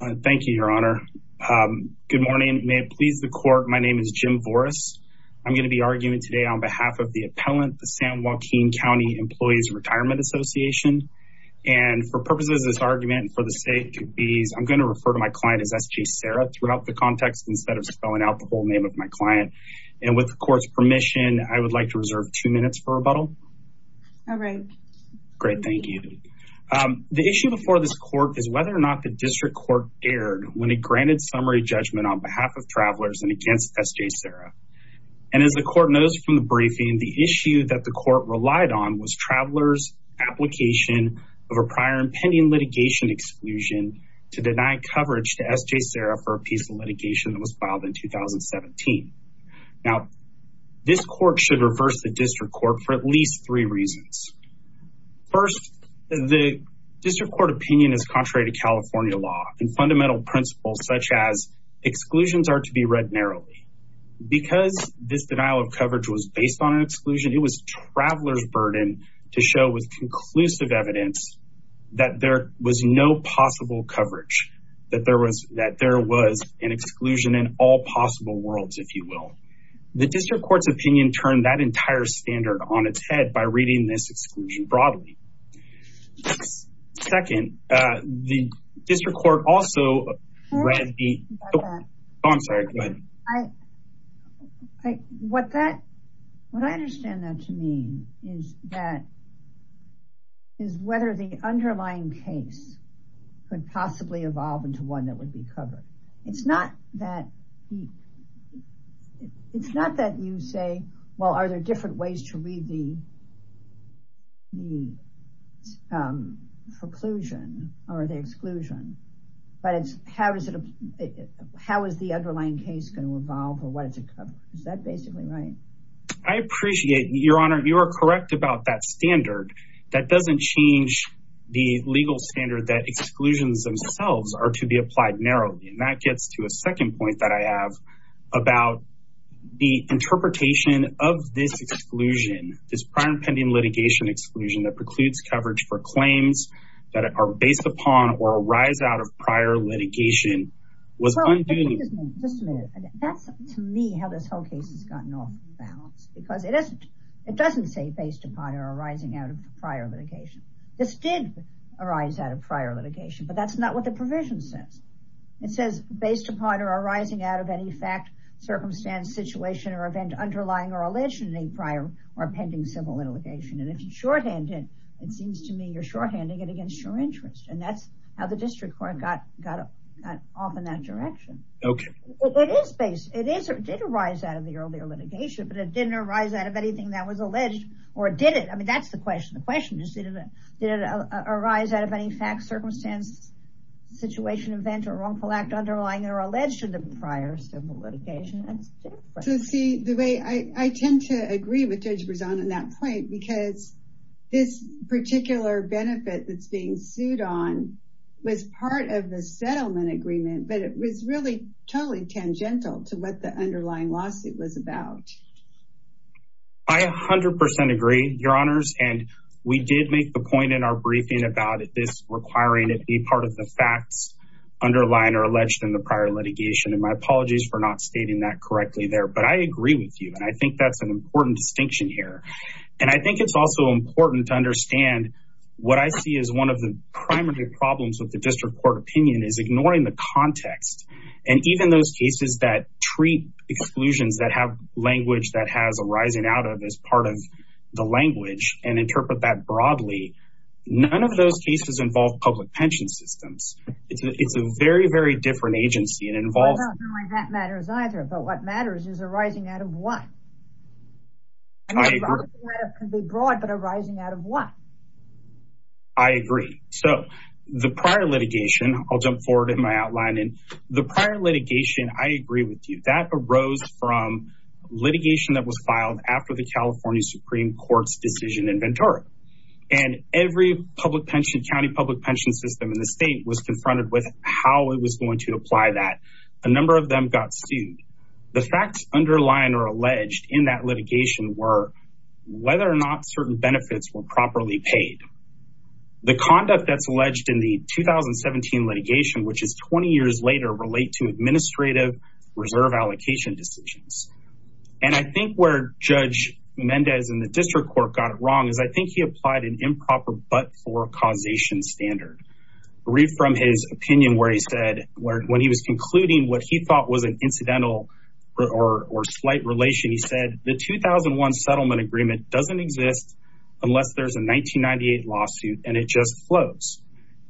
Thank you, Your Honor. Good morning. May it please the court. My name is Jim Voris. I'm going to be arguing today on behalf of the appellant, the San Joaquin County Employees Retirement Association. And for purposes of this argument, for the sake of ease, I'm going to refer to my client as SJ Sara throughout the context instead of spelling out the whole name of my client. And with the court's permission, I would like to reserve two minutes for rebuttal. All right. Great. Thank you. The issue before this court is whether or not the district court dared when it granted summary judgment on behalf of travelers and against SJ Sara. And as the court noticed from the briefing, the issue that the court relied on was travelers' application of a prior impending litigation exclusion to deny coverage to SJ Sara for a piece of litigation that was filed in 2017. Now, this court should reverse the district court for at least three reasons. First, the and fundamental principles such as exclusions are to be read narrowly. Because this denial of coverage was based on an exclusion, it was travelers' burden to show with conclusive evidence that there was no possible coverage, that there was that there was an exclusion in all possible worlds, if you will. The district court's opinion turned that entire standard on its head by reading this exclusion broadly. Second, the district court also read the Oh, I'm sorry. What that what I understand that to mean is that is whether the underlying case could possibly evolve into one that would be covered. It's not that it's not that you say, well, are there different ways to read the preclusion or the exclusion? But it's how is it? How is the underlying case going to evolve? Or what is it? Is that basically right? I appreciate your honor, you are correct about that standard. That doesn't change the legal standard that exclusions themselves are to be applied narrowly. And that gets to a second point that I have about the interpretation of this exclusion, this prior pending litigation exclusion that precludes coverage for claims that are based upon or arise out of prior litigation was undue. That's to me how this whole case has gotten off balance, because it doesn't say based upon or arising out of prior litigation. This did arise out of prior litigation, but that's not what the provision says. It says based upon or arising out of any fact, circumstance, situation or event underlying or allegedly prior or pending civil litigation. And if you shorthand it, it seems to me you're shorthanding it against your interest. And that's how the district court got off in that direction. It is based, it did arise out of the earlier litigation, but it didn't arise out of anything that was alleged, or did it? I mean, that's the question. The question is, did it arise out of any fact, circumstance, situation, event or wrongful act underlying or alleged to the prior civil litigation? So, see, the way I tend to agree with Judge Berzon on that point, because this particular benefit that's being sued on was part of the settlement agreement, but it was really totally tangential to what the underlying lawsuit was about. I 100% agree, Your Honors. And we did make the point in our briefing about this requiring it be part of the facts underlying or alleged in the prior litigation. And my apologies for not stating that correctly there. But I agree with you. And I think that's an important distinction here. And I think it's also important to understand what I see as one of the primary problems with the district court opinion is ignoring the context. And even those cases that treat exclusions that have language that has a rising out of as part of the language and interpret that broadly, none of those cases involve public pension systems. It's a very, different agency. I don't know why that matters either. But what matters is a rising out of what? I mean, it could be broad, but a rising out of what? I agree. So the prior litigation, I'll jump forward in my outline. And the prior litigation, I agree with you, that arose from litigation that was filed after the California Supreme Court's decision in Ventura. And every county public pension system in the state was confronted with how it was going to apply that a number of them got sued. The facts underlying or alleged in that litigation were whether or not certain benefits were properly paid. The conduct that's alleged in the 2017 litigation, which is 20 years later relate to administrative reserve allocation decisions. And I think where Judge Mendez in the district court got it wrong is I think he applied an improper but for causation standard. Read from his opinion where he said when he was concluding what he thought was an incidental or slight relation, he said the 2001 settlement agreement doesn't exist unless there's a 1998 lawsuit and it just flows.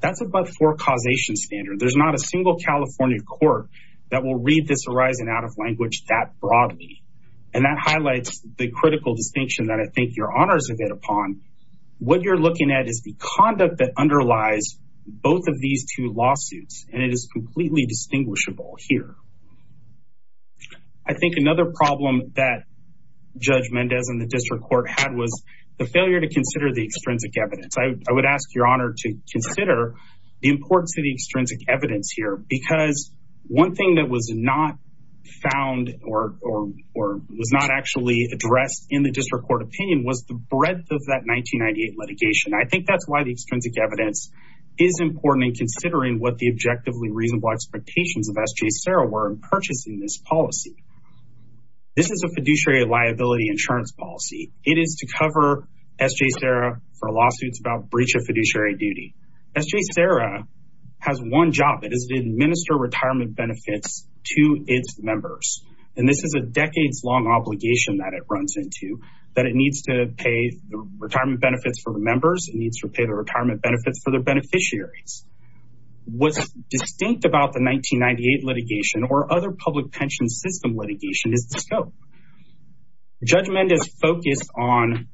That's about for causation standard. There's not a single California court that will read this arising out of language that broadly. And that highlights the critical distinction that I think your honors have hit upon. What you're looking at is the conduct that underlies both of these two lawsuits and it is completely distinguishable here. I think another problem that Judge Mendez in the district court had was the failure to consider the extrinsic evidence. I would ask your honor to consider the importance of the extrinsic evidence here because one thing that was not found or was not actually addressed in the district court opinion was the breadth of that 1998 litigation. I think that's why the extrinsic evidence is important in considering what the objectively reasonable expectations of S.J. Serra were in purchasing this policy. This is a fiduciary liability insurance policy. It is to cover S.J. Serra for lawsuits about breach of fiduciary duty. S.J. Serra has one job. It is to administer retirement benefits to its members. And this is a decades long obligation that it runs into that it needs to pay the retirement benefits for the members. It needs to pay the retirement benefits for the beneficiaries. What's distinct about the 1998 litigation or other public pension system litigation is the scope. Judge Mendez focused on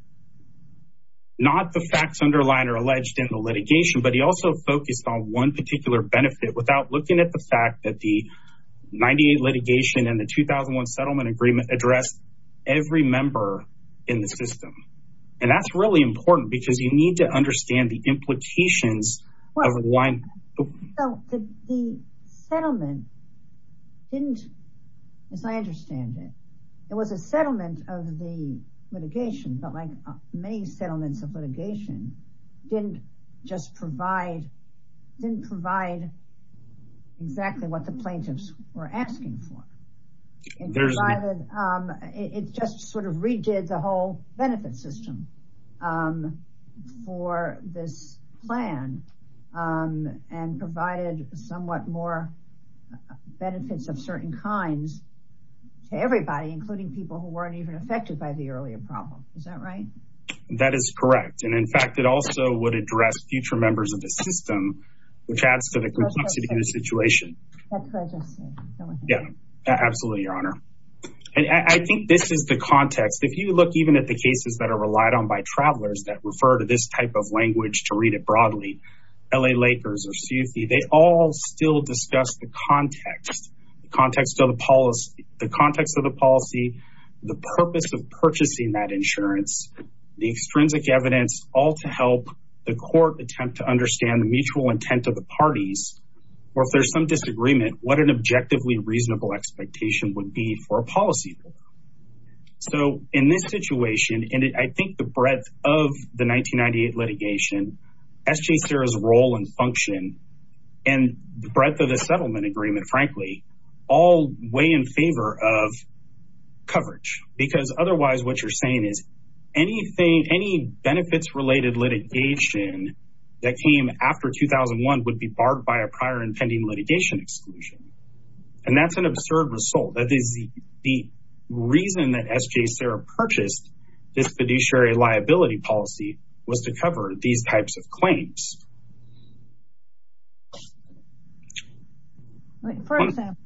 not the facts underlined or alleged in the litigation, but he also focused on one particular benefit without looking at the fact that the 98 litigation and the in the system. And that's really important because you need to understand the implications of why. The settlement didn't, as I understand it, it was a settlement of the litigation, but like many settlements of litigation didn't just provide, didn't provide exactly what the plaintiffs were asking for. It just sort of redid the whole benefit system for this plan and provided somewhat more benefits of certain kinds to everybody, including people who weren't even affected by the earlier problem. Is that right? That is correct. And in fact, it also would address future members of the system, which adds to the complexity of the situation. Yeah, absolutely, Your Honor. And I think this is the cases that are relied on by travelers that refer to this type of language to read it broadly. LA Lakers or Sufi, they all still discuss the context, the context of the policy, the context of the policy, the purpose of purchasing that insurance, the extrinsic evidence, all to help the court attempt to understand the mutual intent of the parties or if there's some disagreement, what an objectively reasonable expectation would be for a policy. So in this situation, and I think the breadth of the 1998 litigation, SJCIRA's role and function and the breadth of the settlement agreement, frankly, all weigh in favor of coverage, because otherwise what you're saying is anything, any benefits related litigation that came after 2001 would be barred by a result. That is the reason that SJCIRA purchased this fiduciary liability policy was to cover these types of claims. For example,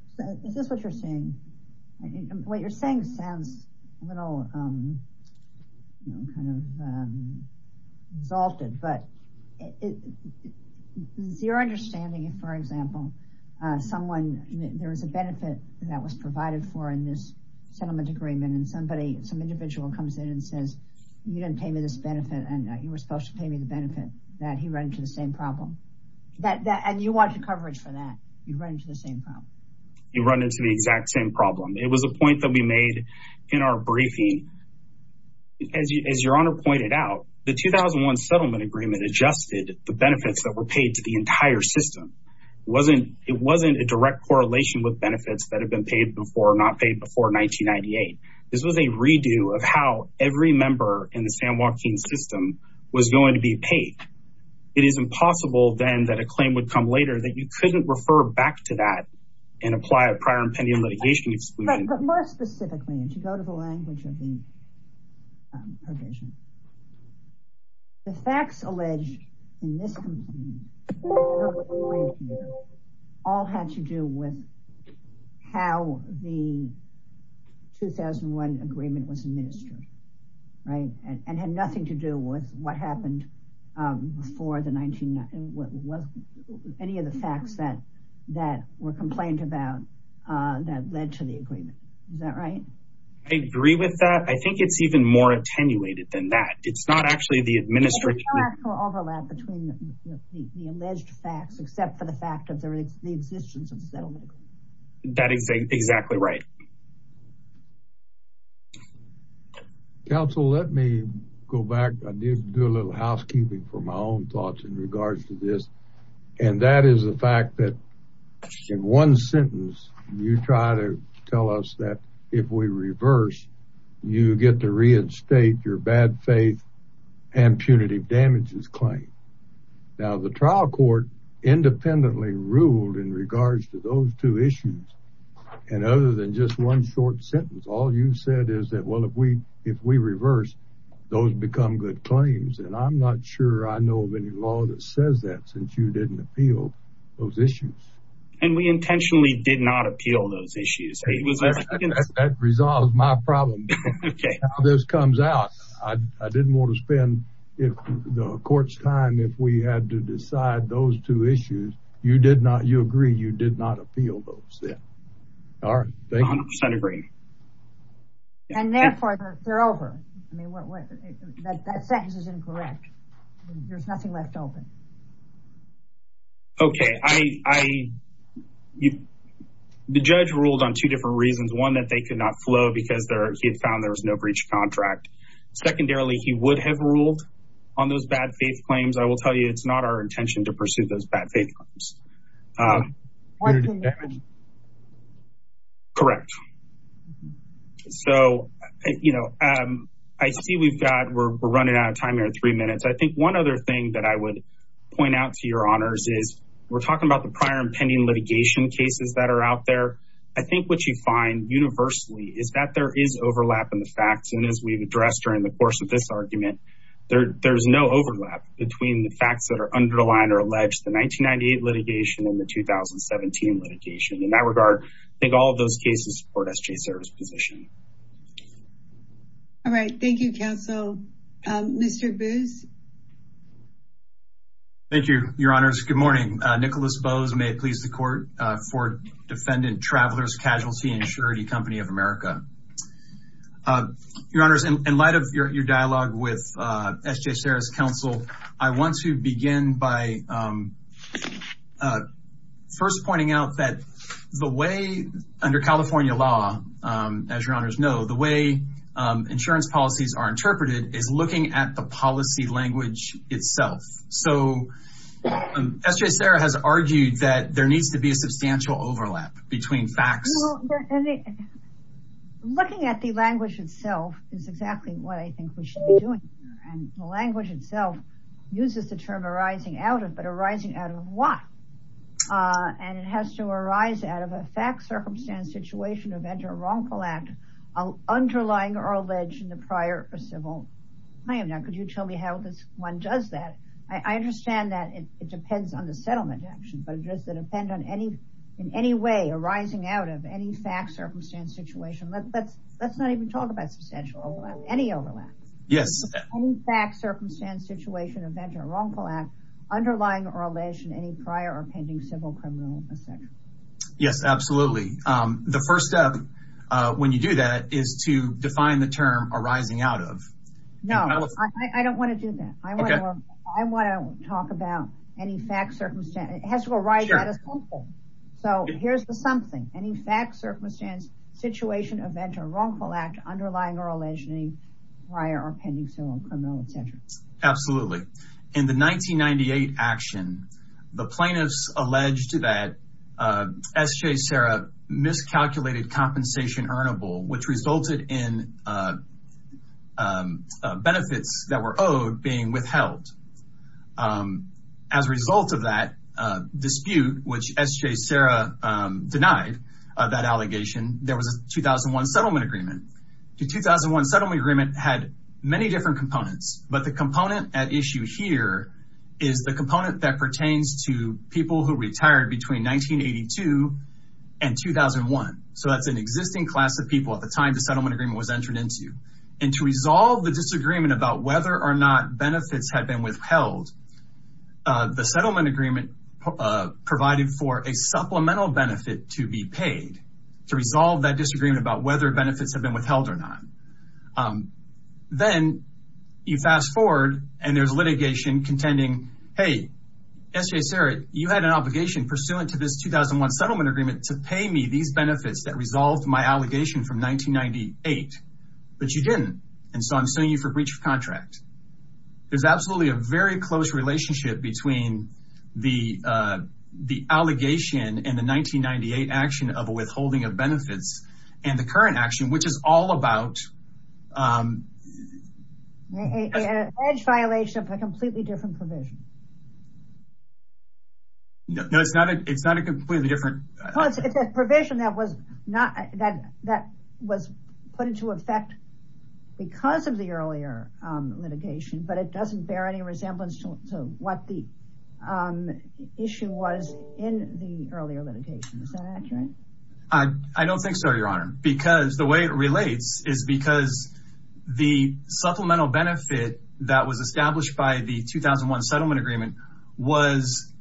is this what you're saying? What you're saying sounds a little kind of exalted, but is your understanding, for example, someone, there was a benefit that was provided for in this settlement agreement and somebody, some individual comes in and says, you didn't pay me this benefit and you were supposed to pay me the benefit, that he ran into the same problem. And you wanted coverage for that. You ran into the same problem. You run into the exact same problem. It was a point that we made in our briefing. As your honor pointed out, the 2001 settlement agreement adjusted the benefits that were paid to the entire system. It wasn't a direct correlation with benefits that had been paid before or not paid before 1998. This was a redo of how every member in the San Joaquin system was going to be paid. It is impossible then that a claim would come later that you couldn't refer back to that and apply a prior impending litigation exclusion. But more specifically, and you go to the provision, the facts alleged in this all had to do with how the 2001 agreement was administered, right? And had nothing to do with what happened before the any of the facts that were complained about that led to the I think it's even more attenuated than that. It's not actually the administrative overlap between the alleged facts, except for the fact that there is the existence of settlement. That is exactly right. Counsel, let me go back. I need to do a little housekeeping for my own thoughts in regards to this. And that is the fact that in one sentence, you try to tell us that if we reverse, you get to reinstate your bad faith and punitive damages claim. Now the trial court independently ruled in regards to those two issues. And other than just one short sentence, all you said is that, well, if we if we reverse, those become good claims. And I'm not sure I know of any law that says that since you didn't appeal those issues. And we intentionally did not appeal those issues. That resolves my problem. Okay, this comes out. I didn't want to spend the court's time if we had to decide those two issues. You did not you agree you did not appeal those. Yeah. All right. Thank you. 100% agree. And therefore, they're over. I mean, that sentence is incorrect. There's nothing left open. Okay, I you the judge ruled on two different reasons, one that they could not flow because there he had found there was no breach contract. Secondarily, he would have ruled on those bad faith claims. I will tell you, it's not our intention to pursue those bad faith claims. Punitive damage. Correct. So, you know, I see we've got we're running out of time here in three minutes. I think one other thing that I point out to your honors is we're talking about the prior impending litigation cases that are out there. I think what you find universally is that there is overlap in the facts. And as we've addressed during the course of this argument, there's no overlap between the facts that are underlined or alleged the 1998 litigation and the 2017 litigation. In that regard, I think all of those cases support SJ's service position. All right. Thank you, counsel. Mr. Boos. Thank you, your honors. Good morning. Nicholas Boos may please the court for defendant travelers casualty and surety company of America. Your honors, in light of your dialogue with SJ Sarah's counsel, I want to begin by first pointing out that the way under California law, as your honors know, the way insurance policies are interpreted is looking at the So, SJ Sarah has argued that there needs to be a substantial overlap between facts. Looking at the language itself is exactly what I think we should be doing. And the language itself uses the term arising out of but arising out of what? And it has to arise out of a fact, circumstance, situation, event, or wrongful act, underlying or alleged in the prior or civil claim. Now, tell me how this one does that. I understand that it depends on the settlement action, but does it depend on any in any way arising out of any fact, circumstance, situation? Let's not even talk about substantial overlap, any overlap. Yes. Fact, circumstance, situation, event, or wrongful act, underlying or alleged in any prior or pending civil criminal offense. Yes, absolutely. The first step when you do that is to define the term arising out of. No, I don't want to do that. I want to talk about any fact, circumstance. It has to arise out of something. So, here's the something. Any fact, circumstance, situation, event, or wrongful act, underlying or alleged in any prior or pending civil criminal, etc. Absolutely. In the 1998 action, the plaintiffs alleged that SJ Sarah miscalculated compensation earnable, which resulted in benefits that were owed being withheld. As a result of that dispute, which SJ Sarah denied that allegation, there was a 2001 settlement agreement. The 2001 settlement agreement had many different components, but the component at issue here is the component that pertains to people who retired between 1982 and 2001. So, that's an existing class of people at the time the settlement agreement was entered into. And to resolve the disagreement about whether or not benefits had been withheld, the settlement agreement provided for a supplemental benefit to be paid to resolve that disagreement about whether benefits have been withheld or not. Then you fast forward and there's litigation contending, hey, SJ Sarah, you had an settlement agreement to pay me these benefits that resolved my allegation from 1998, but you didn't. And so, I'm suing you for breach of contract. There's absolutely a very close relationship between the allegation and the 1998 action of a withholding of benefits and the current action, which is all about... An alleged violation of a completely different provision. No, it's not a completely different... Well, it's a provision that was put into effect because of the earlier litigation, but it doesn't bear any resemblance to what the issue was in the earlier litigation. Is that accurate? I don't think so, Your Honor, because the way it relates is because the supplemental benefit that was established by the settlement agreement was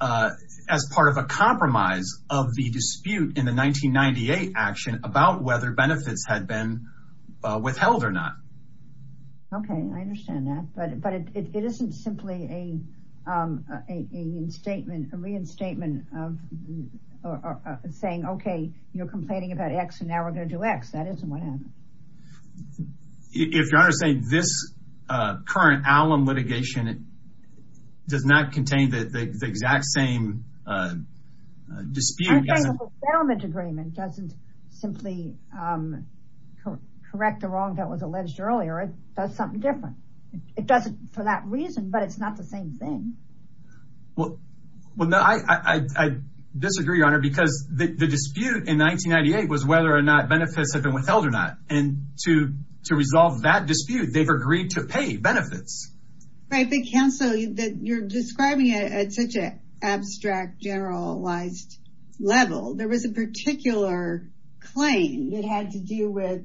as part of a compromise of the dispute in the 1998 action about whether benefits had been withheld or not. Okay, I understand that, but it isn't simply a reinstatement of saying, okay, you're complaining about X and now we're going to do X. That isn't what happened. If Your Honor is saying this current alum litigation does not contain the exact same dispute... I'm saying the settlement agreement doesn't simply correct the wrong that was alleged earlier. It does something different. It doesn't for that reason, but it's not the same thing. Well, I disagree, Your Honor, because the dispute in 1998 was whether or not benefits have been withheld or not, and to resolve that dispute, they've agreed to pay benefits. Right, but counsel, you're describing it at such an abstract, generalized level. There was a particular claim that had to do with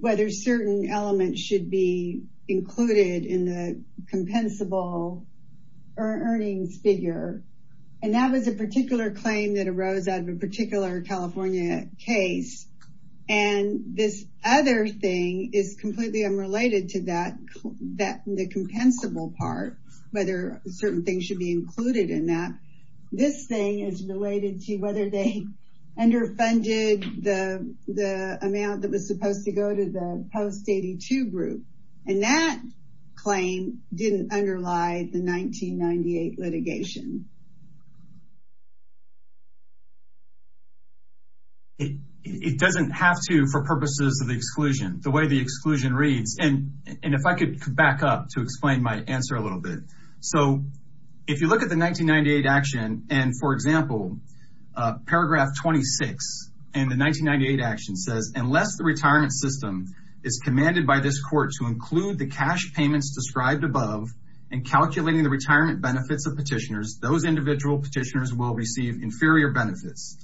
whether certain elements should be included in the compensable earnings figure, and that was a California case, and this other thing is completely unrelated to that, the compensable part, whether certain things should be included in that. This thing is related to whether they underfunded the amount that was supposed to go to the post-82 group, and that claim didn't underlie the 1998 litigation. It doesn't have to for purposes of the exclusion, the way the exclusion reads, and if I could back up to explain my answer a little bit. So if you look at the 1998 action, and for example, paragraph 26 in the 1998 action says, unless the retirement system is commanded by this court to include the cash payments described above and calculating the retirement benefits of petitioners, those individual petitioners will receive inferior benefits,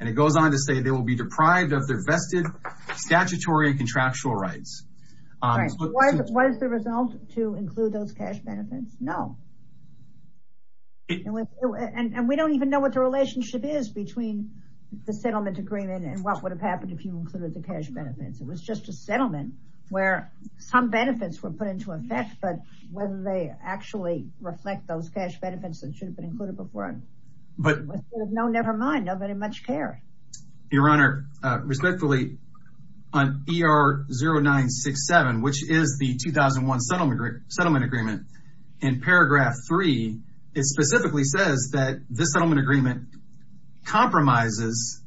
and it goes on to say they will be deprived of their vested statutory contractual rights. Was the result to include those cash benefits? No. And we don't even know what the relationship is between the settlement agreement and what would have happened if you included the cash benefits. It was just a settlement where some benefits were put into effect, but whether they actually reflect those cash benefits that should have been included before. But no, never mind, nobody much care. Your honor, respectfully, on ER0967, which is the 2001 settlement agreement, in paragraph 3, it specifically says that this settlement agreement compromises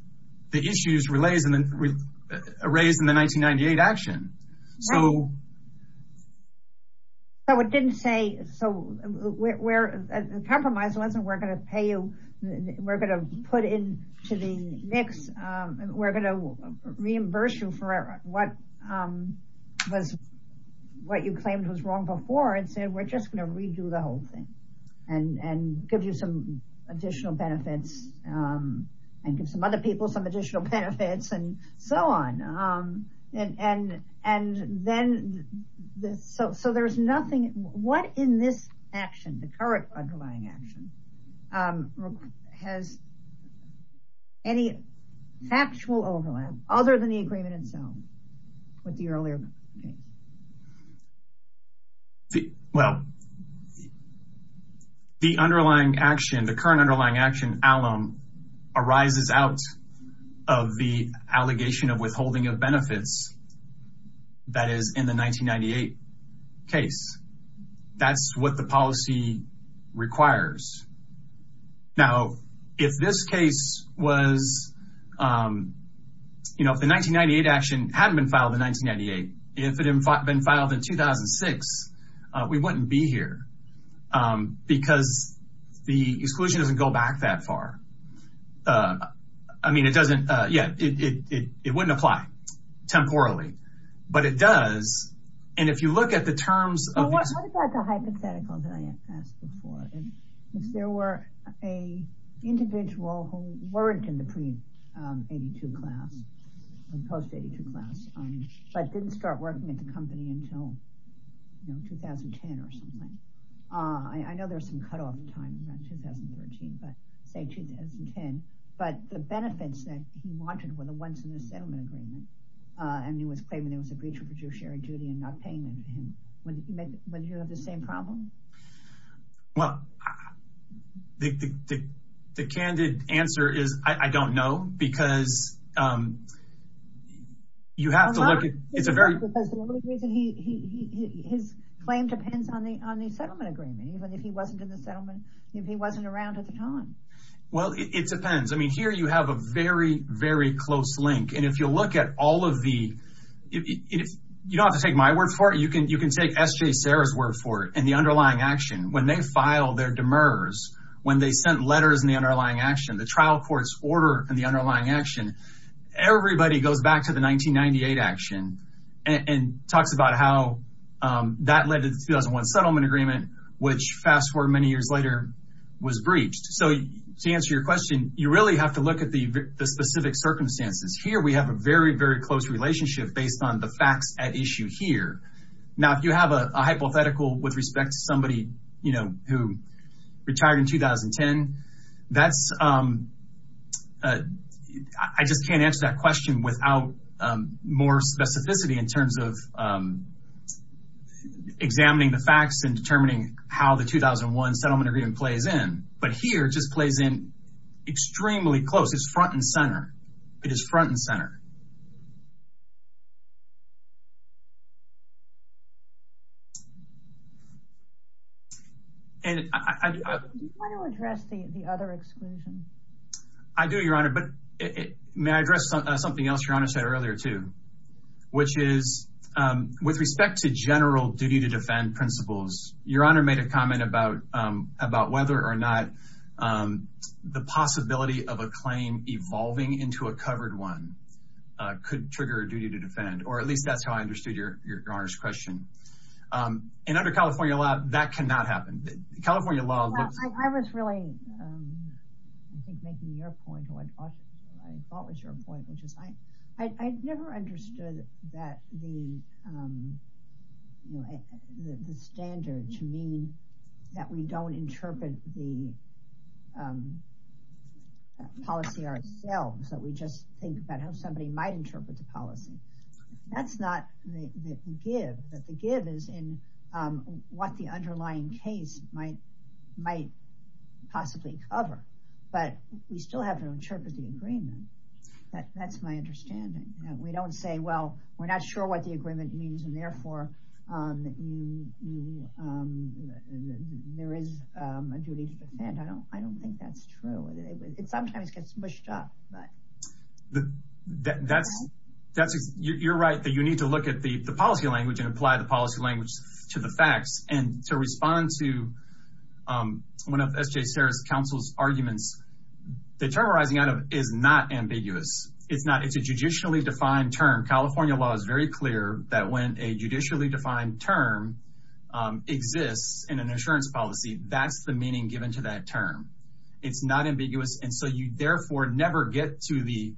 the issues raised in the 1998 action. So it didn't say, so the compromise wasn't we're going to pay you, we're going to put into the mix, we're going to reimburse you for what you claimed was wrong before, it said we're just going to redo the whole thing and give you some additional benefits and give some other people some benefits. So there's nothing, what in this action, the current underlying action, has any factual overlap other than the agreement itself with the earlier case? Well, the underlying action, the current underlying action arises out of the allegation of withholding of benefits that is in the 1998 case. That's what the policy requires. Now, if this case was, you know, if the 1998 action hadn't been filed in 1998, if it had been filed in 2006, we wouldn't be here because the exclusion doesn't go back that far. I mean, it doesn't, yeah, it wouldn't apply temporally, but it does. And if you look at the terms of the hypothetical that I asked before, if there were a individual who weren't in the pre-82 class, post-82 class, but didn't start working at the I know there's some cutoff time in 2013, but say 2010, but the benefits that he wanted were the ones in the settlement agreement. And he was claiming it was a breach of judiciary duty and not paying him. Wouldn't you have the same problem? Well, the candid answer is I don't know, because you have to look at, it's a very... on the settlement agreement, even if he wasn't in the settlement, if he wasn't around at the time. Well, it depends. I mean, here you have a very, very close link. And if you look at all of the, you don't have to take my word for it. You can take SJ Serra's word for it and the underlying action. When they file their demurs, when they sent letters in the underlying action, the trial court's order and the underlying action, everybody goes back to the settlement agreement, which fast forward many years later was breached. So to answer your question, you really have to look at the specific circumstances. Here we have a very, very close relationship based on the facts at issue here. Now, if you have a hypothetical with respect to somebody, you know, who retired in 2010, that's, I just can't answer that question without more specificity in terms of examining the facts and determining how the 2001 settlement agreement plays in. But here it just plays in extremely close. It's front and center. It is front and center. And I... Do you want to address the other exclusion? I do, Your Honor, but may I address something else Your Principles. Your Honor made a comment about whether or not the possibility of a claim evolving into a covered one could trigger a duty to defend, or at least that's how I understood Your Honor's question. And under California law, that cannot happen. California law... I was really, I think, making your point. I thought it was the standard to mean that we don't interpret the policy ourselves, that we just think about how somebody might interpret the policy. That's not the give. The give is in what the underlying case might possibly cover. But we still have to interpret the agreement. That's my understanding. We don't say, well, we're not sure what the you know, there is a duty to defend. I don't think that's true. It sometimes gets mushed up, but... That's... You're right that you need to look at the policy language and apply the policy language to the facts. And to respond to one of S.J. Serra's counsel's arguments, the term arising out of it is not ambiguous. It's not. It's a judicially defined term. California law is very clear that when a judicially defined term exists in an insurance policy, that's the meaning given to that term. It's not ambiguous. And so you therefore never get to the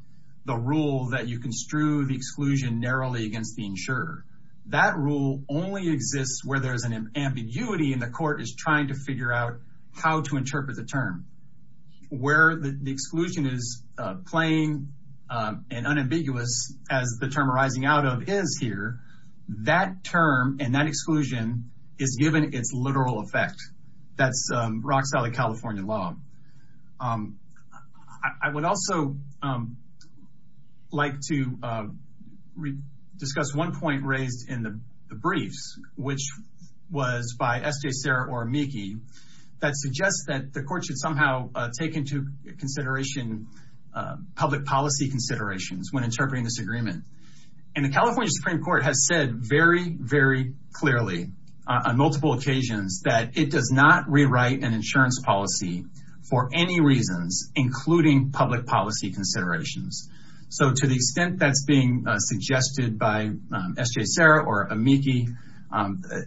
rule that you construe the exclusion narrowly against the insurer. That rule only exists where there's an ambiguity and the court is trying to figure out how to interpret the term. Where the exclusion is plain and unambiguous, as the term arising out of is here, that term and that exclusion is given its literal effect. That's rock solid California law. I would also like to discuss one point raised in the briefs, which was by S.J. Serra or Meekie, that suggests that the court should somehow take into consideration public considerations when interpreting this agreement. And the California Supreme Court has said very, very clearly on multiple occasions that it does not rewrite an insurance policy for any reasons, including public policy considerations. So to the extent that's being suggested by S.J. Serra or Meekie,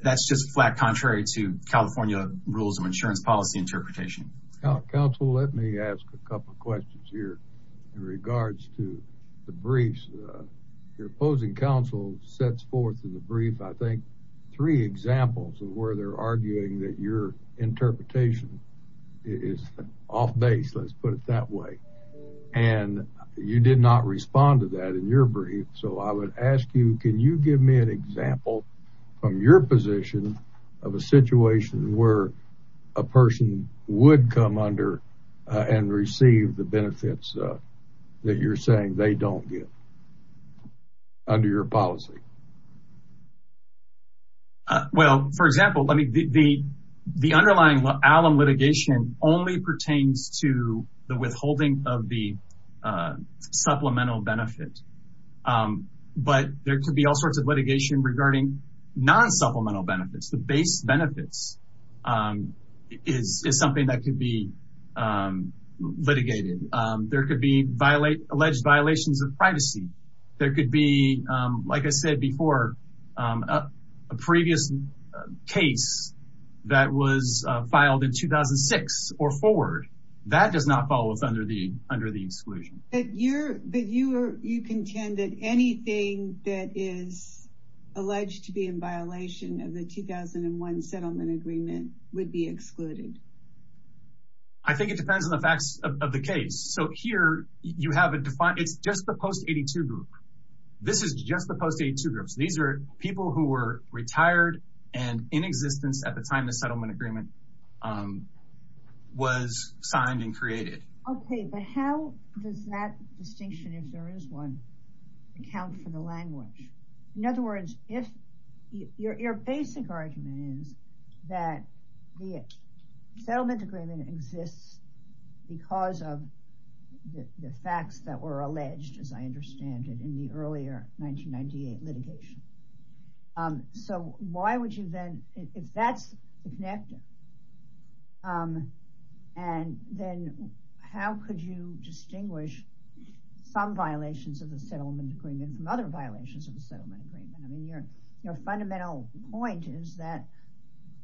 that's just flat contrary to California rules of insurance policy interpretation. Counsel, let me a couple of questions here in regards to the briefs. Your opposing counsel sets forth in the brief, I think, three examples of where they're arguing that your interpretation is off base, let's put it that way. And you did not respond to that in your brief. So I would ask you, can you give me an example from your position of a situation where a person would come under and receive the benefits that you're saying they don't get under your policy? Well, for example, the underlying alum litigation only pertains to the withholding of the supplemental benefit. But there could be all sorts of litigation regarding non supplemental benefits. The base benefits is something that could be litigated. There could be alleged violations of privacy. There could be, like I said before, a previous case that was filed in 2006 or forward. That does not fall under the exclusion. But you contend that anything that is alleged to be in violation of the 2001 settlement agreement would be excluded. I think it depends on the facts of the case. So here you have a defined, it's just the post 82 group. This is just the post 82 groups. These are people who were retired and in existence at the time the settlement agreement was signed and created. Okay, but how does that distinction if there is one account for the language? In that the settlement agreement exists because of the facts that were alleged, as I understand it, in the earlier 1998 litigation. So why would you then, if that's connected, and then how could you distinguish some violations of the settlement agreement from other violations of the settlement agreement? I mean, your fundamental point is that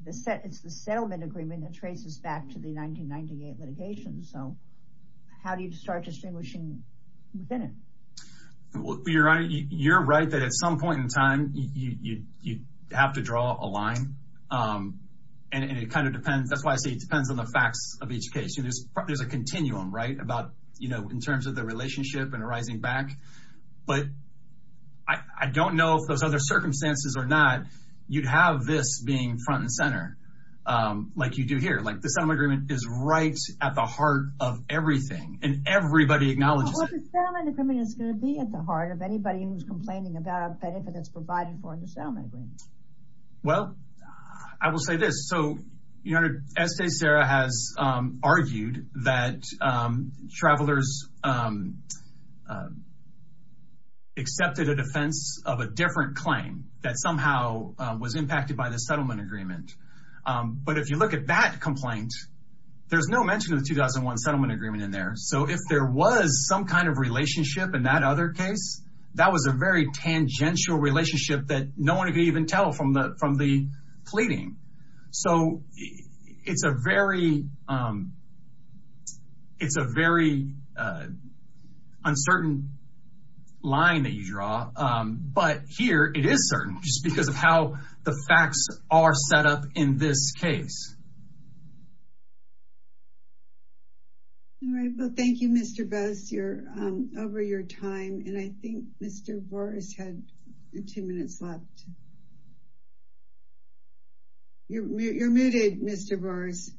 it's the settlement agreement that traces back to the 1998 litigation. So how do you start distinguishing within it? You're right. You're right that at some point in time you have to draw a line. And it kind of depends. That's why I say it depends on the facts of each case. There's a continuum, right, about, you know, in terms of the relationship and arising back. But I don't know if those other circumstances are not, you'd have this being front and center like you do here. Like the settlement agreement is right at the heart of everything and everybody acknowledges it. Well, the settlement agreement is going to be at the heart of anybody who's complaining about a benefit that's provided for the settlement agreement. Well, I will say this. So, you know, Estée, Sarah has argued that travelers accepted a defense of a different claim that somehow was impacted by the settlement agreement. But if you look at that complaint, there's no mention of the 2001 settlement agreement in there. So if there was some kind of relationship in that other case, that was a very tangential relationship that no one could even tell from the pleading. So it's a very uncertain line that you draw. But here, it is certain just because of how the facts are set up in this case. All right. Well, thank you, Mr. Bust. You're over your time. And I think Mr. Boris had two minutes left. You're muted, Mr. Boris.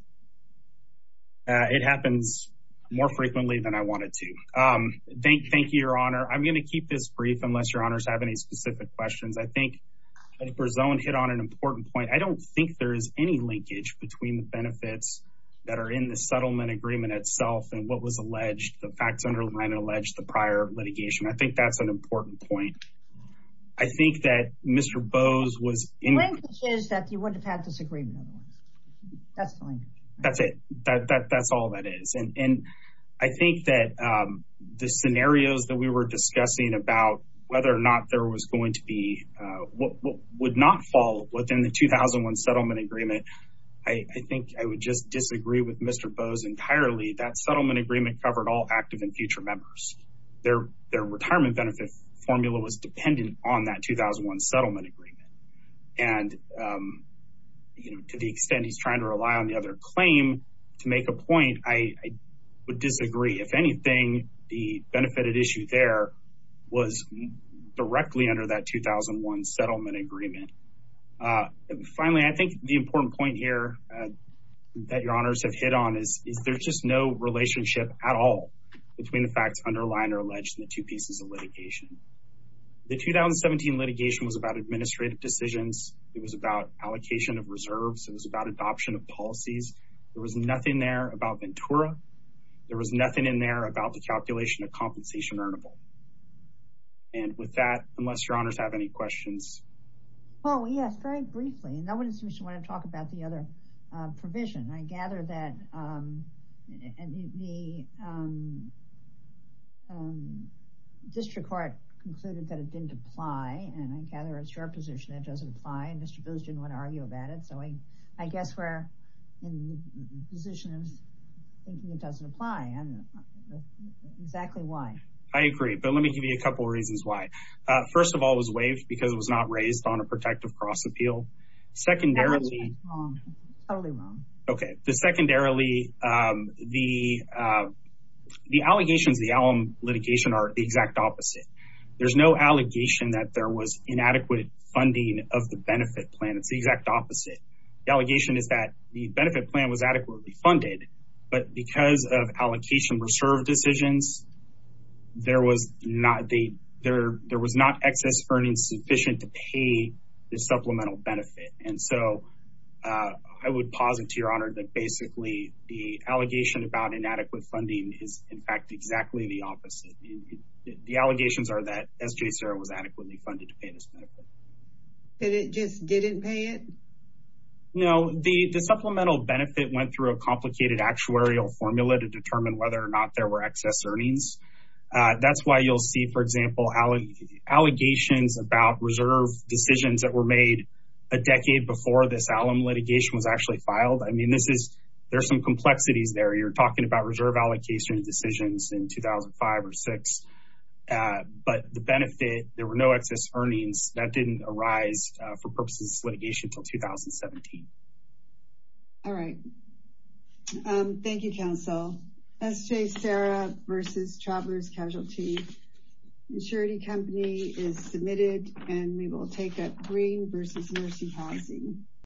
It happens more frequently than I wanted to. Thank you, Your Honor. I'm going to keep this brief unless Your Honors have any specific questions. I think Senator Berzone hit on an important point. I don't think there is any linkage between the benefits that are in the settlement agreement itself and what was alleged, the facts underlying alleged the prior litigation. I think that's an important point. I think that Mr. Bose was... The linkage is that you would have had agreement otherwise. That's fine. That's it. That's all that is. And I think that the scenarios that we were discussing about whether or not there was going to be, would not fall within the 2001 settlement agreement, I think I would just disagree with Mr. Bose entirely. That settlement agreement covered all active and future members. Their retirement benefit formula was dependent on that 2001 settlement agreement. And to the extent he's trying to rely on the other claim to make a point, I would disagree. If anything, the benefited issue there was directly under that 2001 settlement agreement. Finally, I think the important point here that Your Honors have hit on is there's just no relationship at all between the facts underlying or alleged in two pieces of litigation. The 2017 litigation was about administrative decisions. It was about allocation of reserves. It was about adoption of policies. There was nothing there about Ventura. There was nothing in there about the calculation of compensation earnable. And with that, unless Your Honors have any questions. Well, yes, very briefly, and then we just want to talk about the other provision. I gather that the district court concluded that it didn't apply, and I gather it's your position that it doesn't apply, and Mr. Bose didn't want to argue about it. So I guess we're in the position of thinking it doesn't apply, and exactly why. I agree, but let me give you a couple reasons why. First of all, it was waived because it was not raised on a protective cross Secondarily, the allegations in the Allum litigation are the exact opposite. There's no allegation that there was inadequate funding of the benefit plan. It's the exact opposite. The allegation is that the benefit plan was adequately funded, but because of allocation reserve decisions, there was not excess earnings sufficient to pay the benefit. And so I would posit to Your Honor that basically the allegation about inadequate funding is in fact exactly the opposite. The allegations are that SJCERA was adequately funded to pay this benefit. It just didn't pay it? No, the supplemental benefit went through a complicated actuarial formula to determine whether or not there were excess earnings. That's why you'll see, for example, allegations about reserve decisions that were made a decade before this Allum litigation was actually filed. I mean, there's some complexities there. You're talking about reserve allocation decisions in 2005 or 2006, but the benefit, there were no excess earnings that didn't arise for purposes of litigation until 2017. All right. Thank you, counsel. SJCERA versus Traveler's We will take a green versus mercy policy.